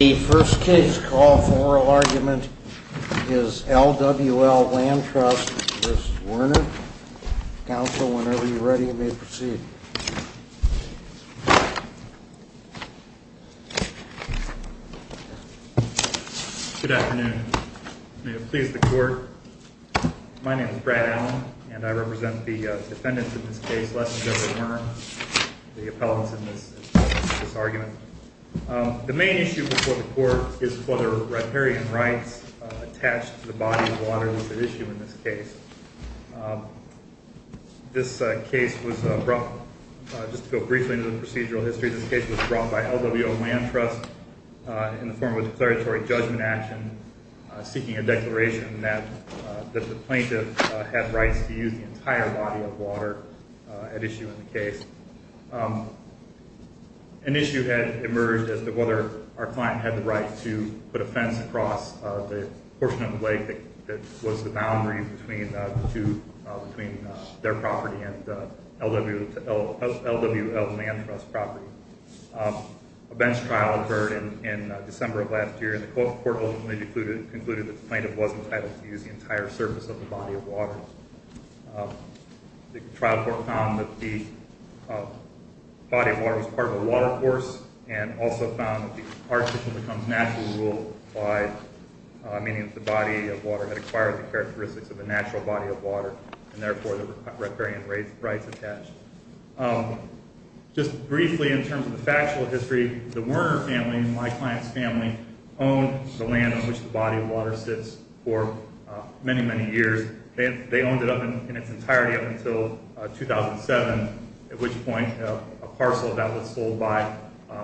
The first case call for oral argument is LWL Land Trust v. Werner. Counsel, whenever you're ready, you may proceed. Good afternoon. May it please the Court. My name is Brad Allen, and I represent the defendants in this case, Les and Deborah Werner, the appellants in this argument. The main issue before the Court is whether riparian rights attached to the body of water was at issue in this case. This case was brought, just to go briefly into the procedural history, this case was brought by LWL Land Trust in the form of a declaratory judgment action seeking a declaration that the plaintiff had rights to use the entire body of water at issue in the case. An issue had emerged as to whether our client had the right to put a fence across the portion of the lake that was the boundary between their property and LWL Land Trust property. A bench trial occurred in December of last year, and the Court ultimately concluded that the plaintiff wasn't entitled to use the entire surface of the body of water. The trial court found that the body of water was part of a water course, and also found that the architecture becomes natural rule by meaning that the body of water had acquired the characteristics of a natural body of water, and therefore there were riparian rights attached. Just briefly in terms of the factual history, the Werner family, my client's family, owned the land on which the body of water sits for many, many years. They owned it in its entirety up until 2007, at which point a parcel of that was sold by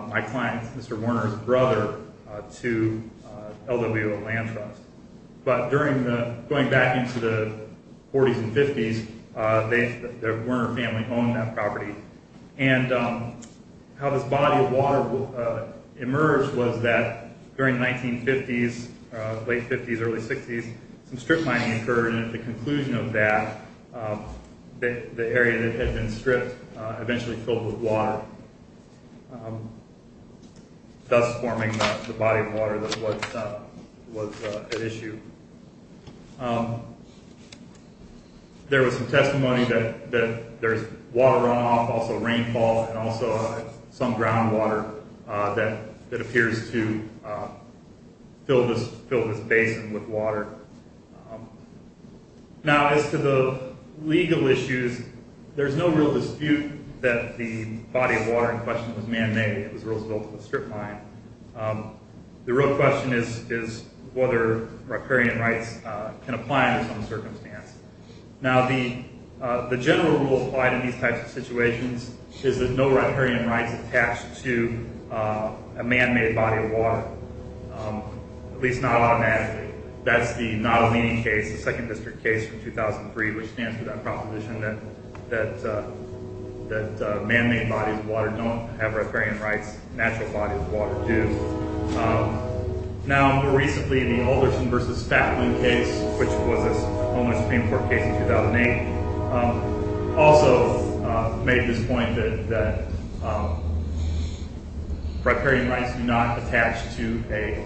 my client, Mr. Werner's brother, to LWL Land Trust. But going back into the 40s and 50s, the Werner family owned that property. And how this body of water emerged was that during the 1950s, late 50s, early 60s, some strip mining occurred, and at the conclusion of that, the area that had been stripped eventually filled with water, thus forming the body of water that was at issue. There was some testimony that there's water runoff, also rainfall, and also some groundwater that appears to fill this basin with water. Now, as to the legal issues, there's no real dispute that the body of water in question was man-made, it was Roosevelt's strip mine. The real question is whether riparian rights can apply under some circumstance. Now, the general rule applied in these types of situations is that no riparian rights attach to a man-made body of water, at least not automatically. That's the Nottolini case, the second district case from 2003, which stands for that proposition that man-made bodies of water don't have riparian rights, natural bodies of water do. Now, more recently, the Alderson v. Fatman case, which was a Supreme Court case in 2008, also made this point that riparian rights do not attach to a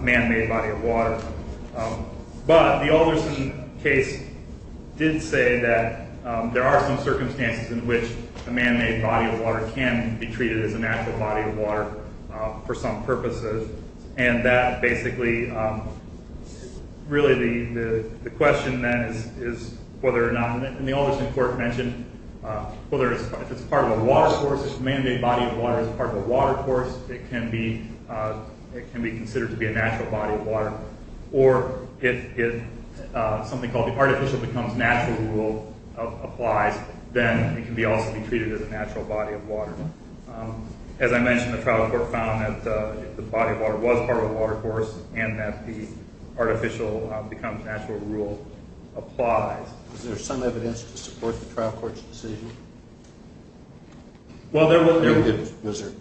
man-made body of water. But the Alderson case did say that there are some circumstances in which a man-made body of water can be treated as a natural body of water for some purposes. And that basically, really the question then is whether or not, and the Alderson court mentioned, if it's part of a water source, if a man-made body of water is part of a water source, it can be considered to be a natural body of water. Or if something called the artificial becomes natural rule applies, then it can also be treated as a natural body of water. As I mentioned, the trial court found that the body of water was part of a water source and that the artificial becomes natural rule applies. Was there some evidence to support the trial court's decision? Was there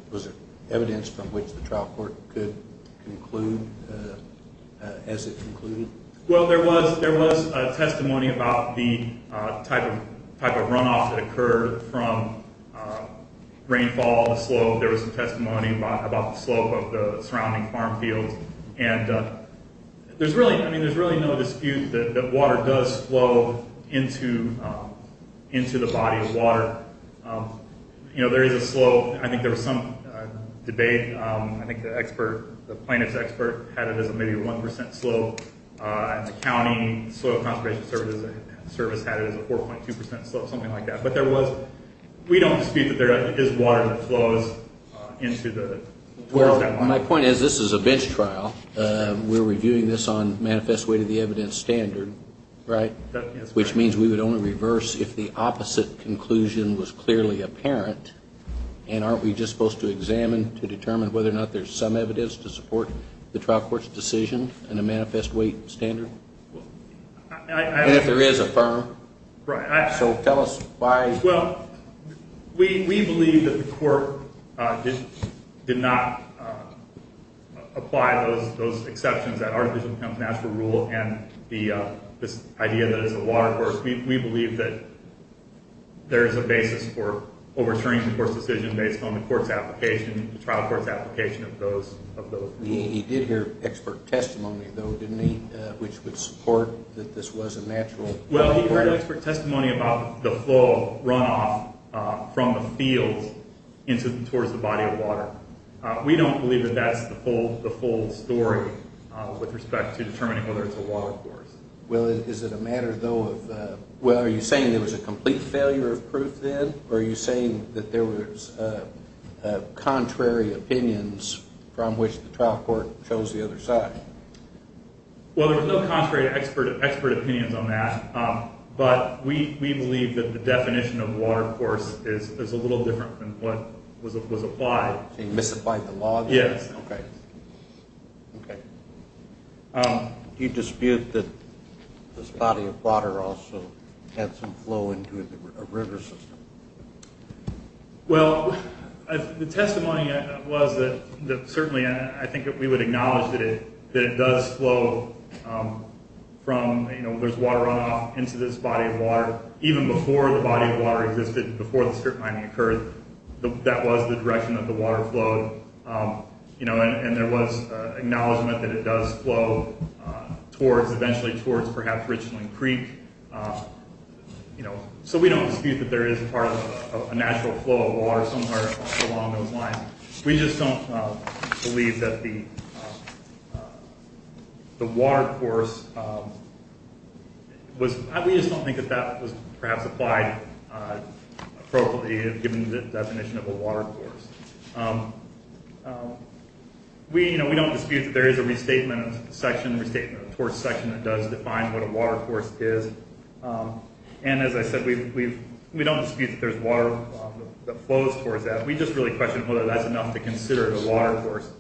evidence from which the trial court could conclude as it concluded? Well, there was testimony about the type of runoff that occurred from rainfall on the slope. There was some testimony about the slope of the surrounding farm fields. And there's really no dispute that water does flow into the body of water. You know, there is a slope. I think there was some debate. I think the expert, the plaintiff's expert had it as maybe a 1% slope. And the county soil conservation service had it as a 4.2% slope, something like that. But there was, we don't dispute that there is water that flows into the body of water. Well, my point is this is a bench trial. We're reviewing this on manifest way to the evidence standard, right? Which means we would only reverse if the opposite conclusion was clearly apparent. And aren't we just supposed to examine to determine whether or not there's some evidence to support the trial court's decision in a manifest way standard? And if there is a firm. So tell us why. Well, we believe that the court did not apply those exceptions. That our decision becomes natural rule and this idea that it's a water course. We believe that there is a basis for overturning the court's decision based on the trial court's application of those rules. He did hear expert testimony, though, didn't he? Which would support that this was a natural runoff. Well, he heard expert testimony about the flow runoff from the field towards the body of water. We don't believe that that's the full story with respect to determining whether it's a water course. Well, is it a matter, though, of, well, are you saying there was a complete failure of proof then? Or are you saying that there was contrary opinions from which the trial court chose the other side? Well, there was no contrary to expert opinions on that. But we believe that the definition of water course is a little different than what was applied. So you misapplied the law? Yes. Okay. Do you dispute that this body of water also had some flow into a river system? Well, the testimony was that certainly I think that we would acknowledge that it does flow from, you know, there's water runoff into this body of water. Even before the body of water existed, before the strip mining occurred, that was the direction that the water flowed. You know, and there was acknowledgment that it does flow towards, eventually towards perhaps Richland Creek. You know, so we don't dispute that there is a part of a natural flow of water somewhere along those lines. We just don't believe that the water course was, we just don't think that that was perhaps applied appropriately, given the definition of a water course. We, you know, we don't dispute that there is a restatement section, restatement of the course section, that does define what a water course is. And as I said, we don't dispute that there's water that flows towards that. We just really question whether that's enough to consider it a water course.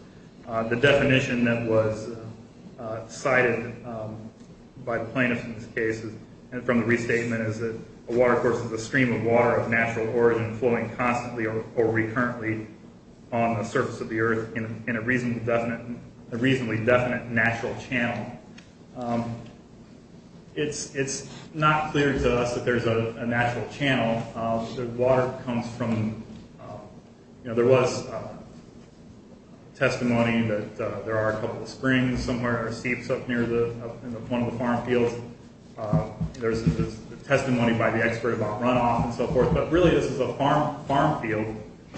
The definition that was cited by the plaintiffs in this case, from the restatement, is that a water course is a stream of water of natural origin flowing constantly or recurrently on the surface of the earth in a reasonably definite natural channel. It's not clear to us that there's a natural channel. The water comes from, you know, there was testimony that there are a couple of springs somewhere, or seeps up near one of the farm fields. There's testimony by the expert about runoff and so forth. But really this is a farm field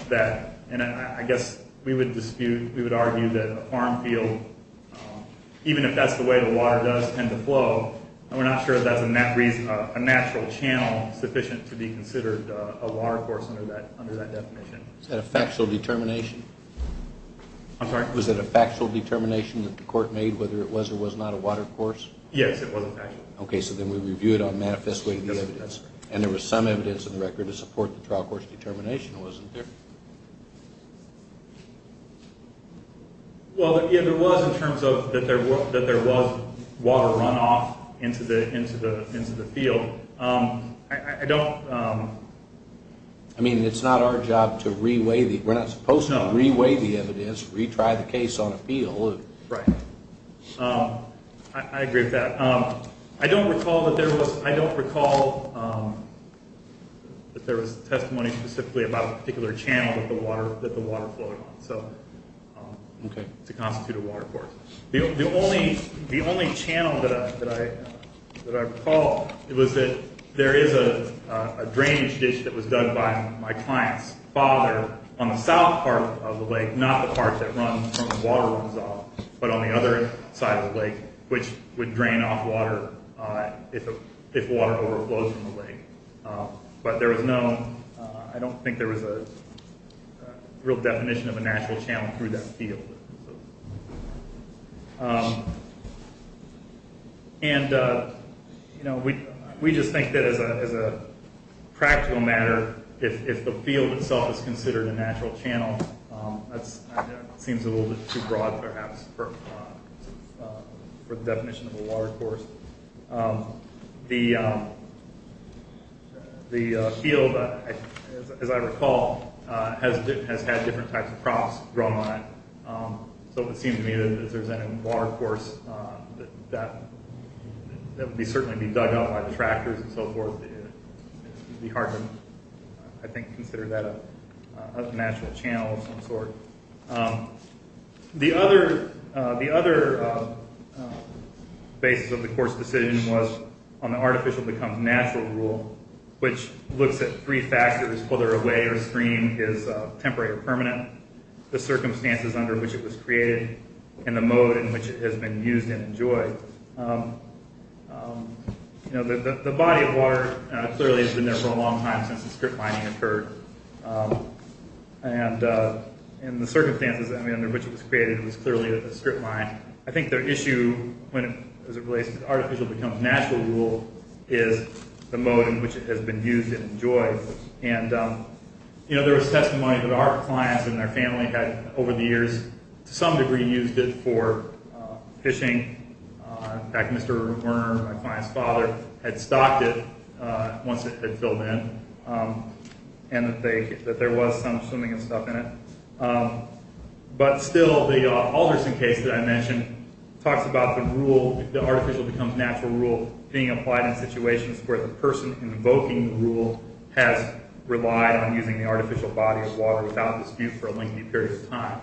that, and I guess we would dispute, we would argue that a farm field, even if that's the way the water does tend to flow, we're not sure if that's a natural channel sufficient to be considered a water course under that definition. Is that a factual determination? I'm sorry? Was it a factual determination that the court made whether it was or was not a water course? Yes, it was a factual determination. Okay, so then we review it on manifest way to the evidence. And there was some evidence in the record to support the trial court's determination, wasn't there? Well, if it was in terms of that there was water runoff into the field, I don't... I mean, it's not our job to reweigh the... We're not supposed to reweigh the evidence, retry the case on appeal. Right. I agree with that. I don't recall that there was... I don't recall that there was testimony specifically about a particular channel that the water flowed on. So... Okay. It's a constituted water course. The only channel that I recall was that there is a drainage ditch that was dug by my client's father on the south part of the lake, not the part that runs from where the water runs off, but on the other side of the lake, which would drain off water if water overflows from the lake. But there was no... I don't think there was a real definition of a natural channel through that field. And, you know, we just think that as a practical matter, if the field itself is considered a natural channel, that seems a little bit too broad, perhaps, for the definition of a water course. The field, as I recall, has had different types of crops grown on it. So it would seem to me that if there's any water course that would certainly be dug out by tractors and so forth, it would be hard to, I think, consider that a natural channel of some sort. The other basis of the course decision was on the artificial becomes natural rule, which looks at three factors, whether a way or stream is temporary or permanent, the circumstances under which it was created, and the mode in which it has been used and enjoyed. The body of water clearly has been there for a long time since the strip mining occurred. And the circumstances under which it was created was clearly the strip mine. I think their issue when it relates to artificial becomes natural rule is the mode in which it has been used and enjoyed. And there was testimony that our clients and our family had, over the years, to some degree used it for fishing. In fact, Mr. Werner, my client's father, had stocked it once it had filled in, and that there was some swimming and stuff in it. But still, the Alderson case that I mentioned talks about the artificial becomes natural rule being applied in situations where the person invoking the rule has relied on using the artificial body of water without dispute for a lengthy period of time.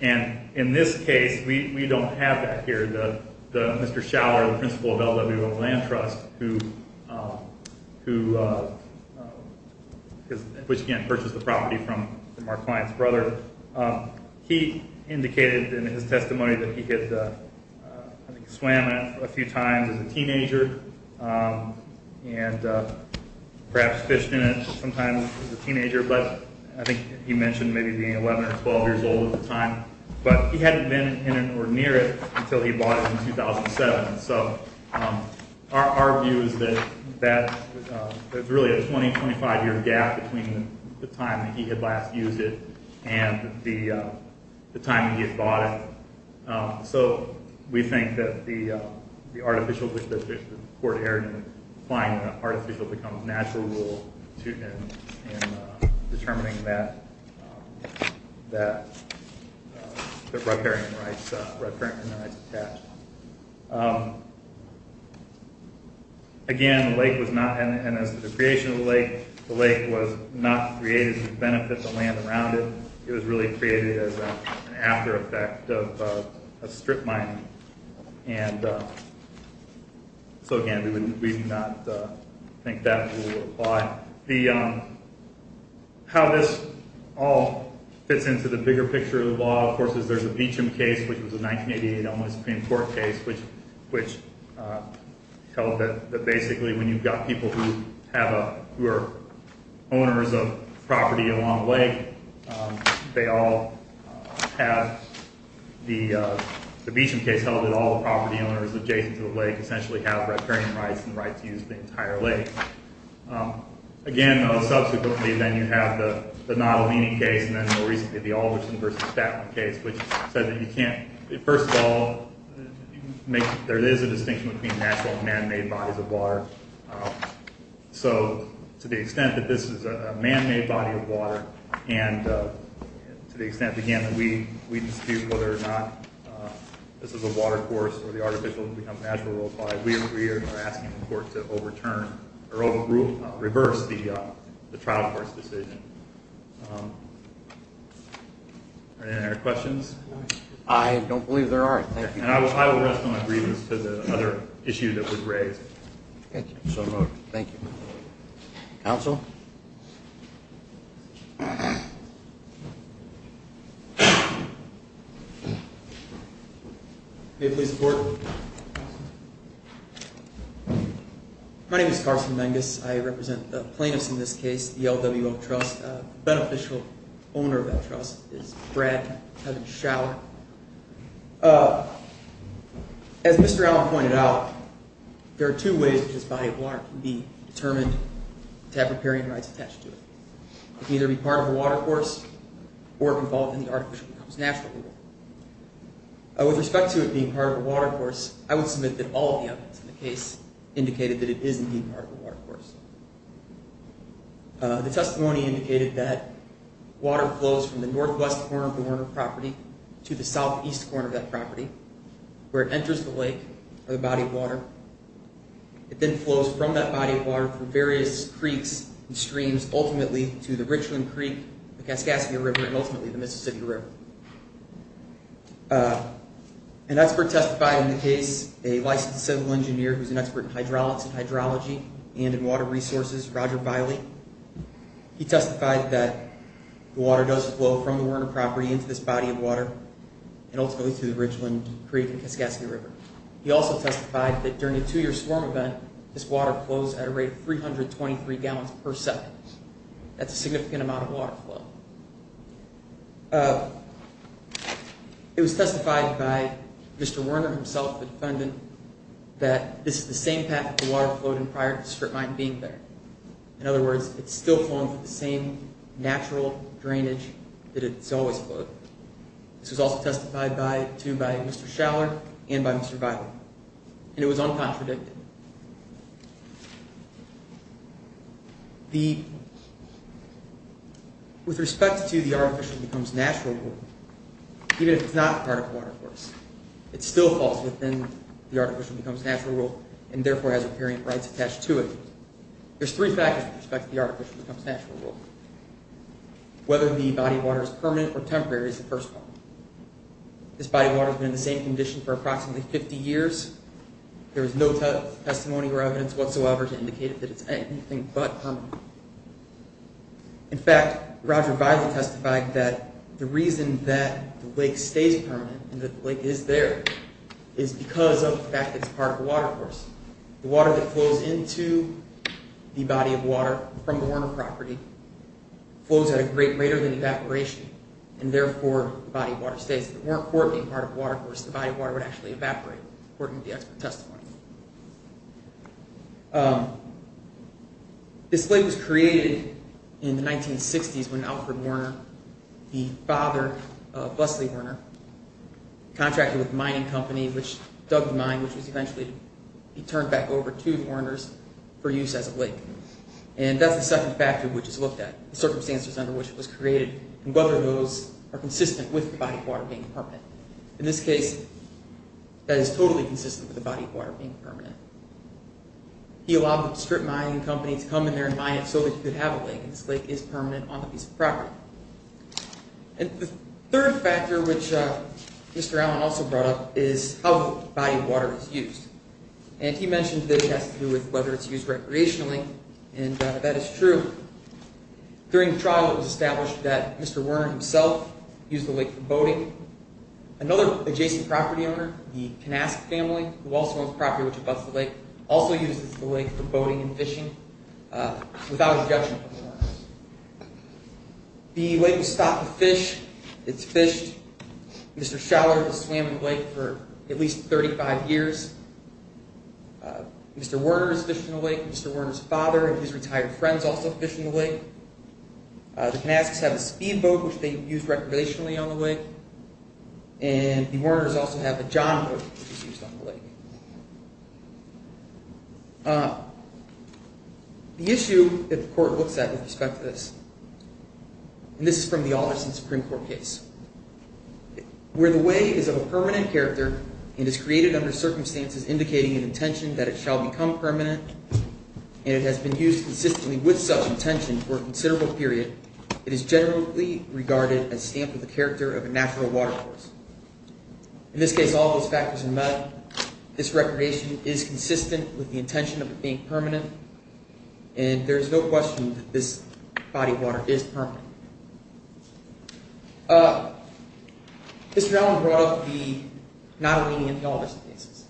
And in this case, we don't have that here. Mr. Schauer, the principal of LWO Land Trust, who, again, purchased the property from our client's brother, he indicated in his testimony that he had swam it a few times as a teenager, and perhaps fished in it sometimes as a teenager, but I think he mentioned maybe being 11 or 12 years old at the time. But he hadn't been in it or near it until he bought it in 2007. So our view is that there's really a 20, 25 year gap between the time that he had last used it and the time that he had bought it. So we think that the court erred in applying the artificial becomes natural rule in determining that the riparian rights attached. Again, the lake was not, and as the creation of the lake, the lake was not created to benefit the land around it. It was really created as an after effect of a strip mining. And so, again, we do not think that rule would apply. How this all fits into the bigger picture of the law, of course, is there's a Beecham case, which was a 1988 Elmwood Supreme Court case, which tells that basically when you've got people who are owners of property along a lake, they all have the Beecham case held that all the property owners adjacent to the lake essentially have riparian rights and the right to use the entire lake. Again, subsequently, then you have the Nottle-Meany case, and then more recently the Alderson v. Statlin case, which said that you can't, first of all, there is a distinction between natural and man-made bodies of water. So to the extent that this is a man-made body of water, and to the extent, again, that we dispute whether or not this is a water course or the artificial has become natural or applied, we are asking the court to overturn or reverse the trial court's decision. Are there any other questions? I don't believe there are. Thank you. And I will rest on my grievance to the other issue that was raised. Thank you. Thank you. Counsel? May it please the Court? My name is Carson Menges. I represent the plaintiffs in this case, the LWO Trust. The beneficial owner of that trust is Brad Kevin Schauer. As Mr. Allen pointed out, there are two ways in which this body of water can be determined to have riparian rights attached to it. It can either be part of a water course or it can fall within the artificial becomes natural water. With respect to it being part of a water course, I would submit that all of the evidence in the case indicated that it is indeed part of a water course. The testimony indicated that water flows from the northwest corner of the Warner property to the southeast corner of that property where it enters the lake or the body of water. It then flows from that body of water through various creeks and streams ultimately to the Richland Creek, the Kaskassia River, and ultimately the Mississippi River. An expert testified in the case, a licensed civil engineer who is an expert in hydrology and in water resources, Roger Biley. He testified that the water does flow from the Warner property into this body of water and ultimately to the Richland Creek and the Kaskassia River. He also testified that during a two-year storm event, this water flows at a rate of 323 gallons per second. That's a significant amount of water flow. It was testified by Mr. Warner himself, the defendant, that this is the same path that the water flowed in prior to the strip mine being there. In other words, it's still flowing through the same natural drainage that it's always flowed. This was also testified to by Mr. Schaller and by Mr. Biley. And it was uncontradicted. With respect to the Artificial Becomes Natural rule, even if it's not a part of the Water Course, it still falls within the Artificial Becomes Natural rule and therefore has repairing rights attached to it. There's three factors with respect to the Artificial Becomes Natural rule. Whether the body of water is permanent or temporary is the first one. This body of water has been in the same condition for approximately 50 years. There is no testimony or evidence whatsoever to indicate that it's anything but permanent. In fact, Roger Biley testified that the reason that the lake stays permanent and that the lake is there is because of the fact that it's part of the Water Course. The water that flows into the body of water from the Werner property flows at a rate greater than evaporation and therefore the body of water stays. If it weren't for being part of the Water Course, the body of water would actually evaporate, according to the expert testimony. This lake was created in the 1960s when Alfred Werner, the father of Leslie Werner, contracted with a mining company which dug the mine, which was eventually turned back over to Werner's for use as a lake. And that's the second factor which is looked at, the circumstances under which it was created and whether those are consistent with the body of water being permanent. In this case, that is totally consistent with the body of water being permanent. He allowed the strip mining company to come in there and mine it so that you could have a lake, and this lake is permanent on the piece of property. And the third factor which Mr. Allen also brought up is how the body of water is used. And he mentioned that it has to do with whether it's used recreationally, and that is true. During the trial, it was established that Mr. Werner himself used the lake for boating. Another adjacent property owner, the Knask family, who also owns property which abuts the lake, also uses the lake for boating and fishing without objection from the Werners. The lake was stocked with fish. It's fished. Mr. Schaller has swam in the lake for at least 35 years. Mr. Werner has fished in the lake. Mr. Werner's father and his retired friends also fish in the lake. The Knasks have a speedboat which they use recreationally on the lake. And the Werners also have a jon boat which is used on the lake. The issue that the court looks at with respect to this, and this is from the Alderson Supreme Court case, where the way is of a permanent character and is created under circumstances indicating an intention that it shall become permanent and it has been used consistently with such intention for a considerable period, it is generally regarded as stamped with the character of a natural water source. In this case, all those factors are met. This recreation is consistent with the intention of it being permanent, and there is no question that this body of water is permanent. Mr. Allen brought up the Nottolini and the Alderson cases.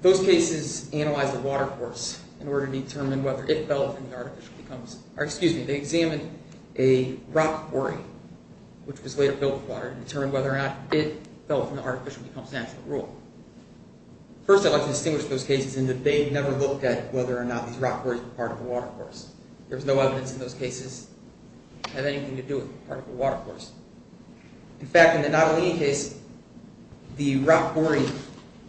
Those cases analyzed the water course in order to determine whether it fell from the artificial, or excuse me, they examined a rock quarry which was later built with water and determined whether or not it fell from the artificial and becomes natural rule. First, I'd like to distinguish those cases in that they never looked at whether or not these rock quarries were part of the water course. There was no evidence in those cases to have anything to do with part of the water course. In fact, in the Nottolini case, the rock quarry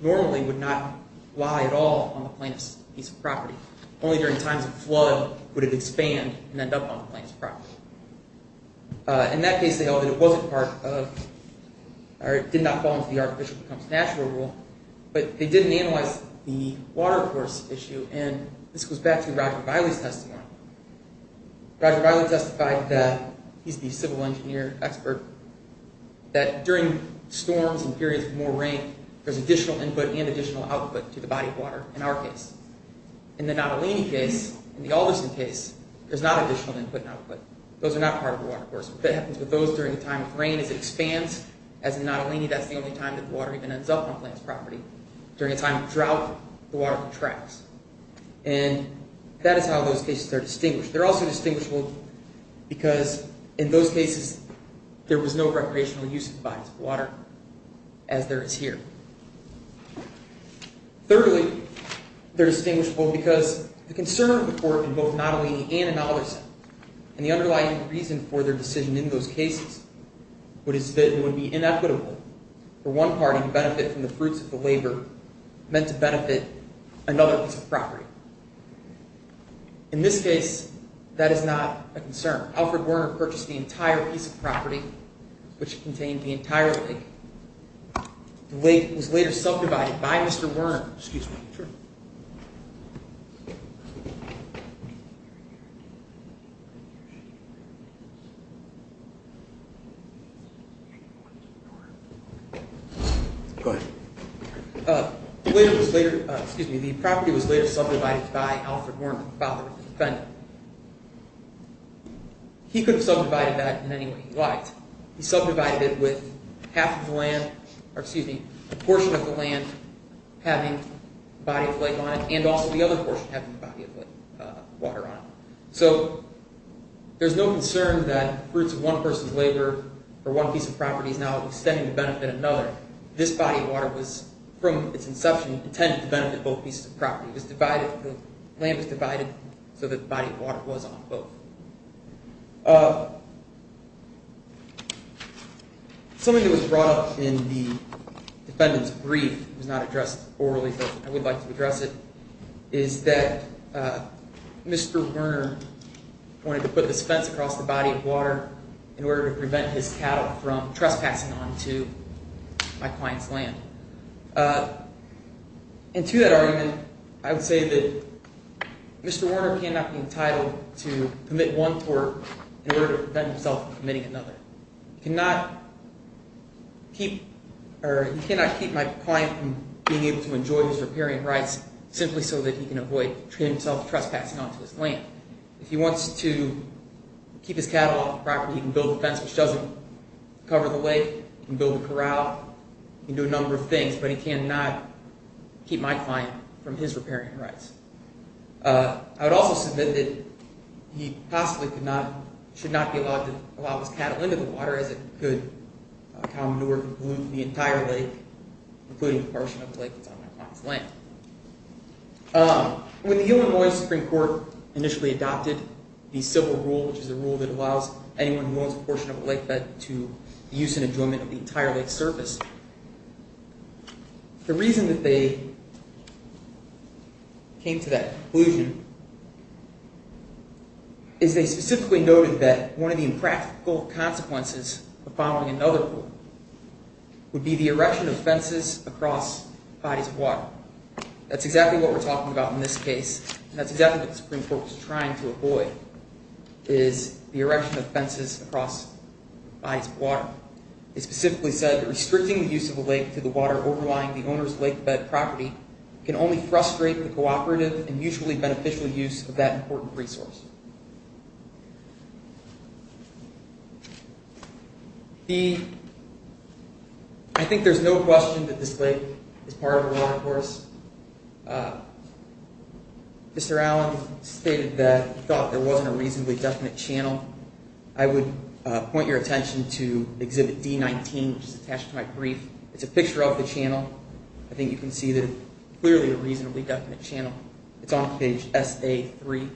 normally would not lie at all on the plaintiff's piece of property. Only during times of flood would it expand and end up on the plaintiff's property. In that case, they held that it wasn't part of, or it did not fall into the artificial becomes natural rule, but they didn't analyze the water course issue, and this goes back to Roger Biley's testimony. Roger Biley testified that, he's the civil engineer expert, that during storms and periods of more rain, there's additional input and additional output to the body of water in our case. In the Nottolini case, in the Alderson case, there's not additional input and output. Those are not part of the water course. What happens with those during the time of rain is it expands. As in Nottolini, that's the only time that the water even ends up on the plaintiff's property. During a time of drought, the water contracts. And that is how those cases are distinguished. They're also distinguishable because in those cases, there was no recreational use of the bodies of water as there is here. Thirdly, they're distinguishable because the concern of the court in both Nottolini and in Alderson, and the underlying reason for their decision in those cases, was that it would be inequitable for one party to benefit from the fruits of the labor meant to benefit another piece of property. In this case, that is not a concern. Alfred Werner purchased the entire piece of property, which contained the entire lake. The lake was later subdivided by Mr. Werner. The property was later subdivided by Alfred Werner, the father of the defendant. He could have subdivided that in any way he liked. He subdivided it with half of the land, or excuse me, a portion of the land having the body of the lake on it, and also the other portion having the body of the water on it. So there's no concern that the fruits of one person's labor for one piece of property is now extending to benefit another. This body of water was, from its inception, intended to benefit both pieces of property. The land was divided so that the body of water was on both. Something that was brought up in the defendant's brief, it was not addressed orally, but I would like to address it, is that Mr. Werner wanted to put this fence across the body of water in order to prevent his cattle from trespassing onto my client's land. And to that argument, I would say that Mr. Werner cannot be entitled to commit one tort in order to prevent himself from committing another. He cannot keep my client from being able to enjoy his riparian rights simply so that he can avoid himself trespassing onto his land. If he wants to keep his cattle off the property, he can build a fence which doesn't cover the lake. He can build a corral. He can do a number of things, but he cannot keep my client from his riparian rights. I would also submit that he possibly should not be allowed to allow his cattle into the water as it could command the entire lake, including a portion of the lake that's on my client's land. When the Illinois Supreme Court initially adopted the civil rule, which is a rule that allows anyone who owns a portion of a lake bed to use and enjoyment of the entire lake surface, the reason that they came to that conclusion is they specifically noted that one of the impractical consequences of following another rule would be the erection of fences across bodies of water. That's exactly what we're talking about in this case, and that's exactly what the Supreme Court was trying to avoid, is the erection of fences across bodies of water. They specifically said that restricting the use of a lake to the water overlying the owner's lake bed property can only frustrate the cooperative and mutually beneficial use of that important resource. I think there's no question that this lake is part of a watercourse. Mr. Allen stated that he thought there wasn't a reasonably definite channel. I would point your attention to Exhibit D-19, which is attached to my brief. It's a picture of the channel. I think you can see that it's clearly a reasonably definite channel. It's on page SA-3.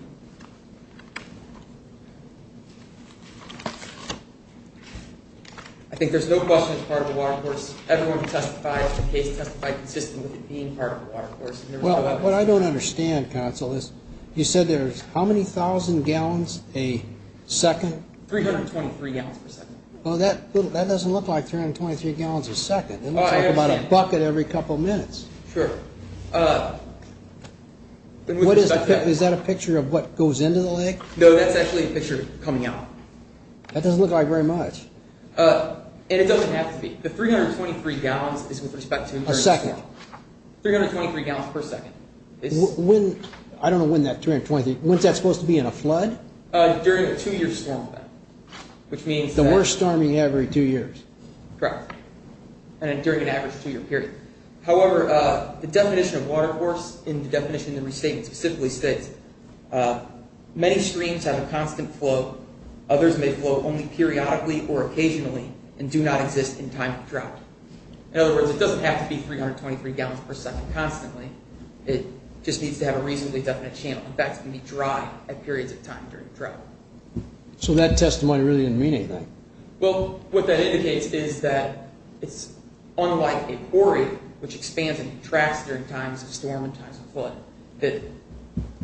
I think there's no question it's part of a watercourse. Everyone who testified to the case testified consistently that it being part of a watercourse. What I don't understand, Counsel, is you said there's how many thousand gallons a second? 323 gallons per second. Well, that doesn't look like 323 gallons a second. It looks like about a bucket every couple of minutes. Sure. Is that a picture of what goes into the lake? No, that's actually a picture coming out. That doesn't look like very much. It doesn't have to be. The 323 gallons is with respect to a second. 323 gallons per second. I don't know when that 323, when's that supposed to be, in a flood? During a two-year storm event. The worst storming every two years. Correct. During an average two-year period. However, the definition of watercourse in the definition of the restatement specifically states, many streams have a constant flow. Others may flow only periodically or occasionally and do not exist in time of drought. In other words, it doesn't have to be 323 gallons per second constantly. It just needs to have a reasonably definite channel. In fact, it can be dry at periods of time during a drought. So that testimony really didn't mean anything. Well, what that indicates is that it's unlike a quarry, which expands and contracts during times of storm and times of flood, that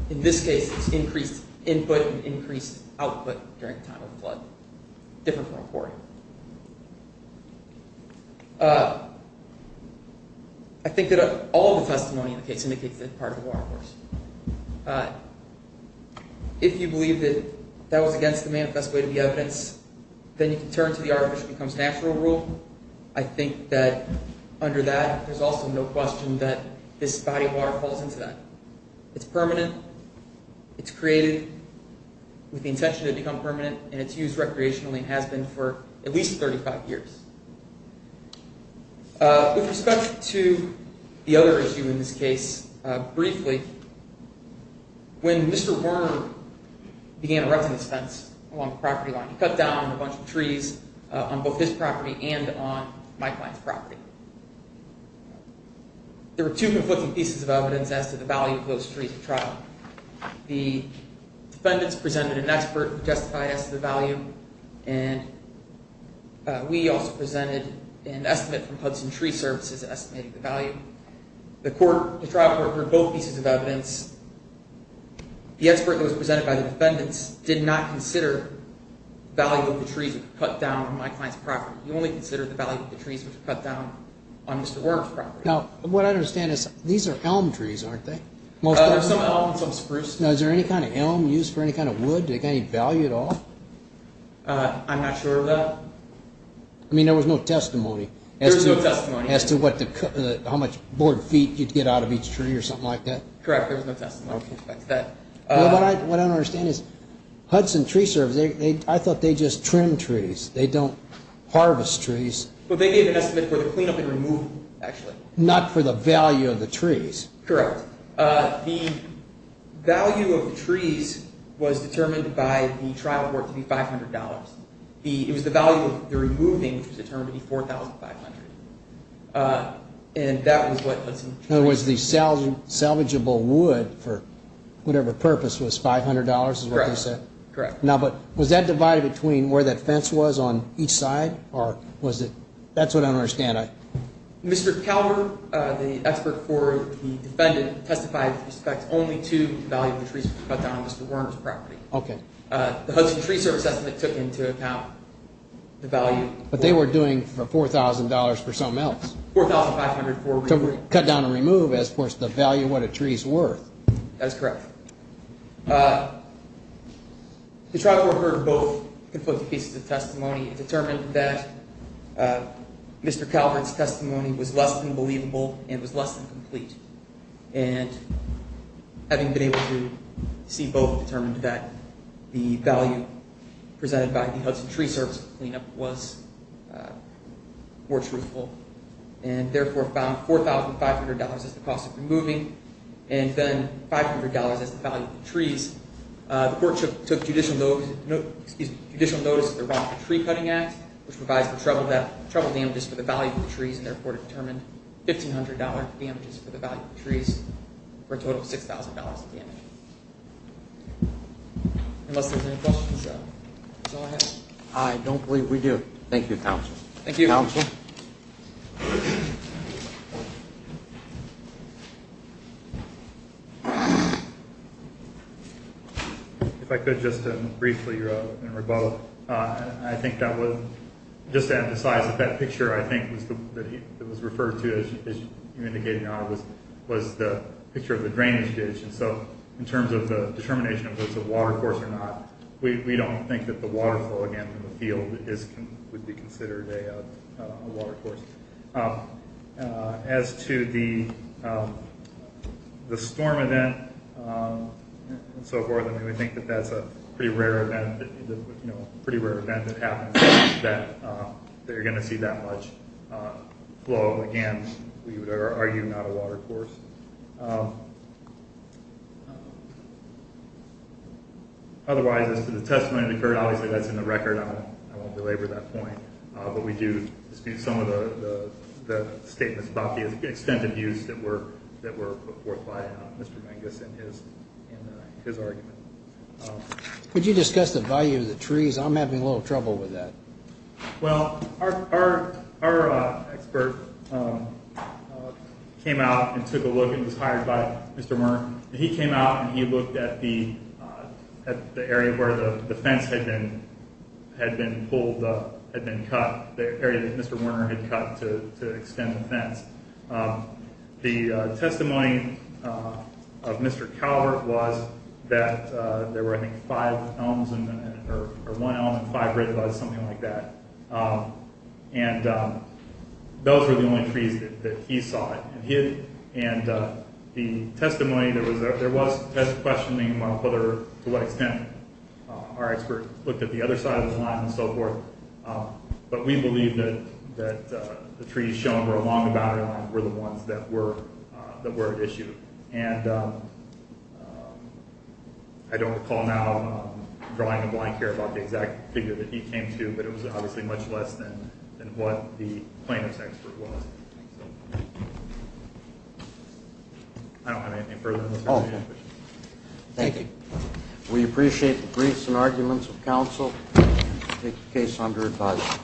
in this case it's increased input and increased output during time of flood. Different from a quarry. I think that all the testimony in the case indicates that it's part of a watercourse. If you believe that that was against the manifest way of the evidence, then you can turn to the artificial becomes natural rule. I think that under that, there's also no question that this body of water falls into that. It's permanent. It's created with the intention to become permanent, and it's used recreationally and has been for at least 35 years. With respect to the other issue in this case, briefly, when Mr. Werner began erecting this fence along the property line, he cut down on a bunch of trees on both his property and on my client's property. There were two conflicting pieces of evidence as to the value of those trees at trial. The defendants presented an expert who justified as to the value, and we also presented an estimate from Hudson Tree Services estimating the value. The trial court heard both pieces of evidence. The expert that was presented by the defendants did not consider the value of the trees that were cut down on my client's property. He only considered the value of the trees that were cut down on Mr. Werner's property. Now, what I understand is these are elm trees, aren't they? There's some elm and some spruce. Now, is there any kind of elm used for any kind of wood? Do they have any value at all? I'm not sure of that. I mean, there was no testimony. There was no testimony. As to how much board feet you'd get out of each tree or something like that? Correct, there was no testimony. What I don't understand is Hudson Tree Services, I thought they just trim trees. They don't harvest trees. Not for the value of the trees? Correct. The value of the trees was determined by the trial court to be $500. It was the value of the removing which was determined to be $4,500. And that was what Hudson Tree Services did. In other words, the salvageable wood for whatever purpose was $500 is what they said? Correct, correct. Now, but was that divided between where that fence was on each side or was it? That's what I don't understand. Mr. Calvert, the expert for the defendant, testified with respect only to the value of the trees cut down on Mr. Werner's property. Okay. The Hudson Tree Services took into account the value. But they were doing $4,000 for something else. $4,500 for removing. Cut down and remove is, of course, the value of what a tree is worth. That is correct. The trial court heard both conflicting pieces of testimony and determined that Mr. Calvert's testimony was less than believable and was less than complete. And having been able to see both, determined that the value presented by the Hudson Tree Services cleanup was more truthful and therefore found $4,500 as the cost of removing and then $500 as the value of the trees. The court took judicial notice of the Revolving Tree Cutting Act, which provides for trouble damages for the value of the trees and therefore determined $1,500 damages for the value of the trees for a total of $6,000. Unless there's any questions, that's all I have. I don't believe we do. Thank you, counsel. Thank you. Counsel? If I could just briefly, and we're both, I think that would just emphasize that that picture I think that was referred to, as you indicated, was the picture of the drainage ditch. And so in terms of the determination of whether it's a watercourse or not, we don't think that the waterfall, again, in the field would be considered a watercourse. As to the storm event and so forth, we think that that's a pretty rare event that happens that you're going to see that much flow. Again, we would argue not a watercourse. Otherwise, as to the testimony that occurred, obviously that's in the record. I won't belabor that point. But we do dispute some of the statements about the extent of use that were put forth by Mr. Mangus in his argument. Could you discuss the value of the trees? I'm having a little trouble with that. Well, our expert came out and took a look and was hired by Mr. Murr. He came out and he looked at the area where the fence had been pulled up, had been cut, the area that Mr. Werner had cut to extend the fence. The testimony of Mr. Calvert was that there were, I think, five elms or one elm and five ridges, something like that. And those were the only trees that he saw. And the testimony, there was questioning about to what extent our expert looked at the other side of the line and so forth. But we believe that the trees shown along the boundary line were the ones that were at issue. And I don't recall now drawing a blank here about the exact figure that he came to, but it was obviously much less than what the plaintiff's expert was. I don't have anything further to say. Thank you. We appreciate the briefs and arguments of counsel. We take the case under advisory.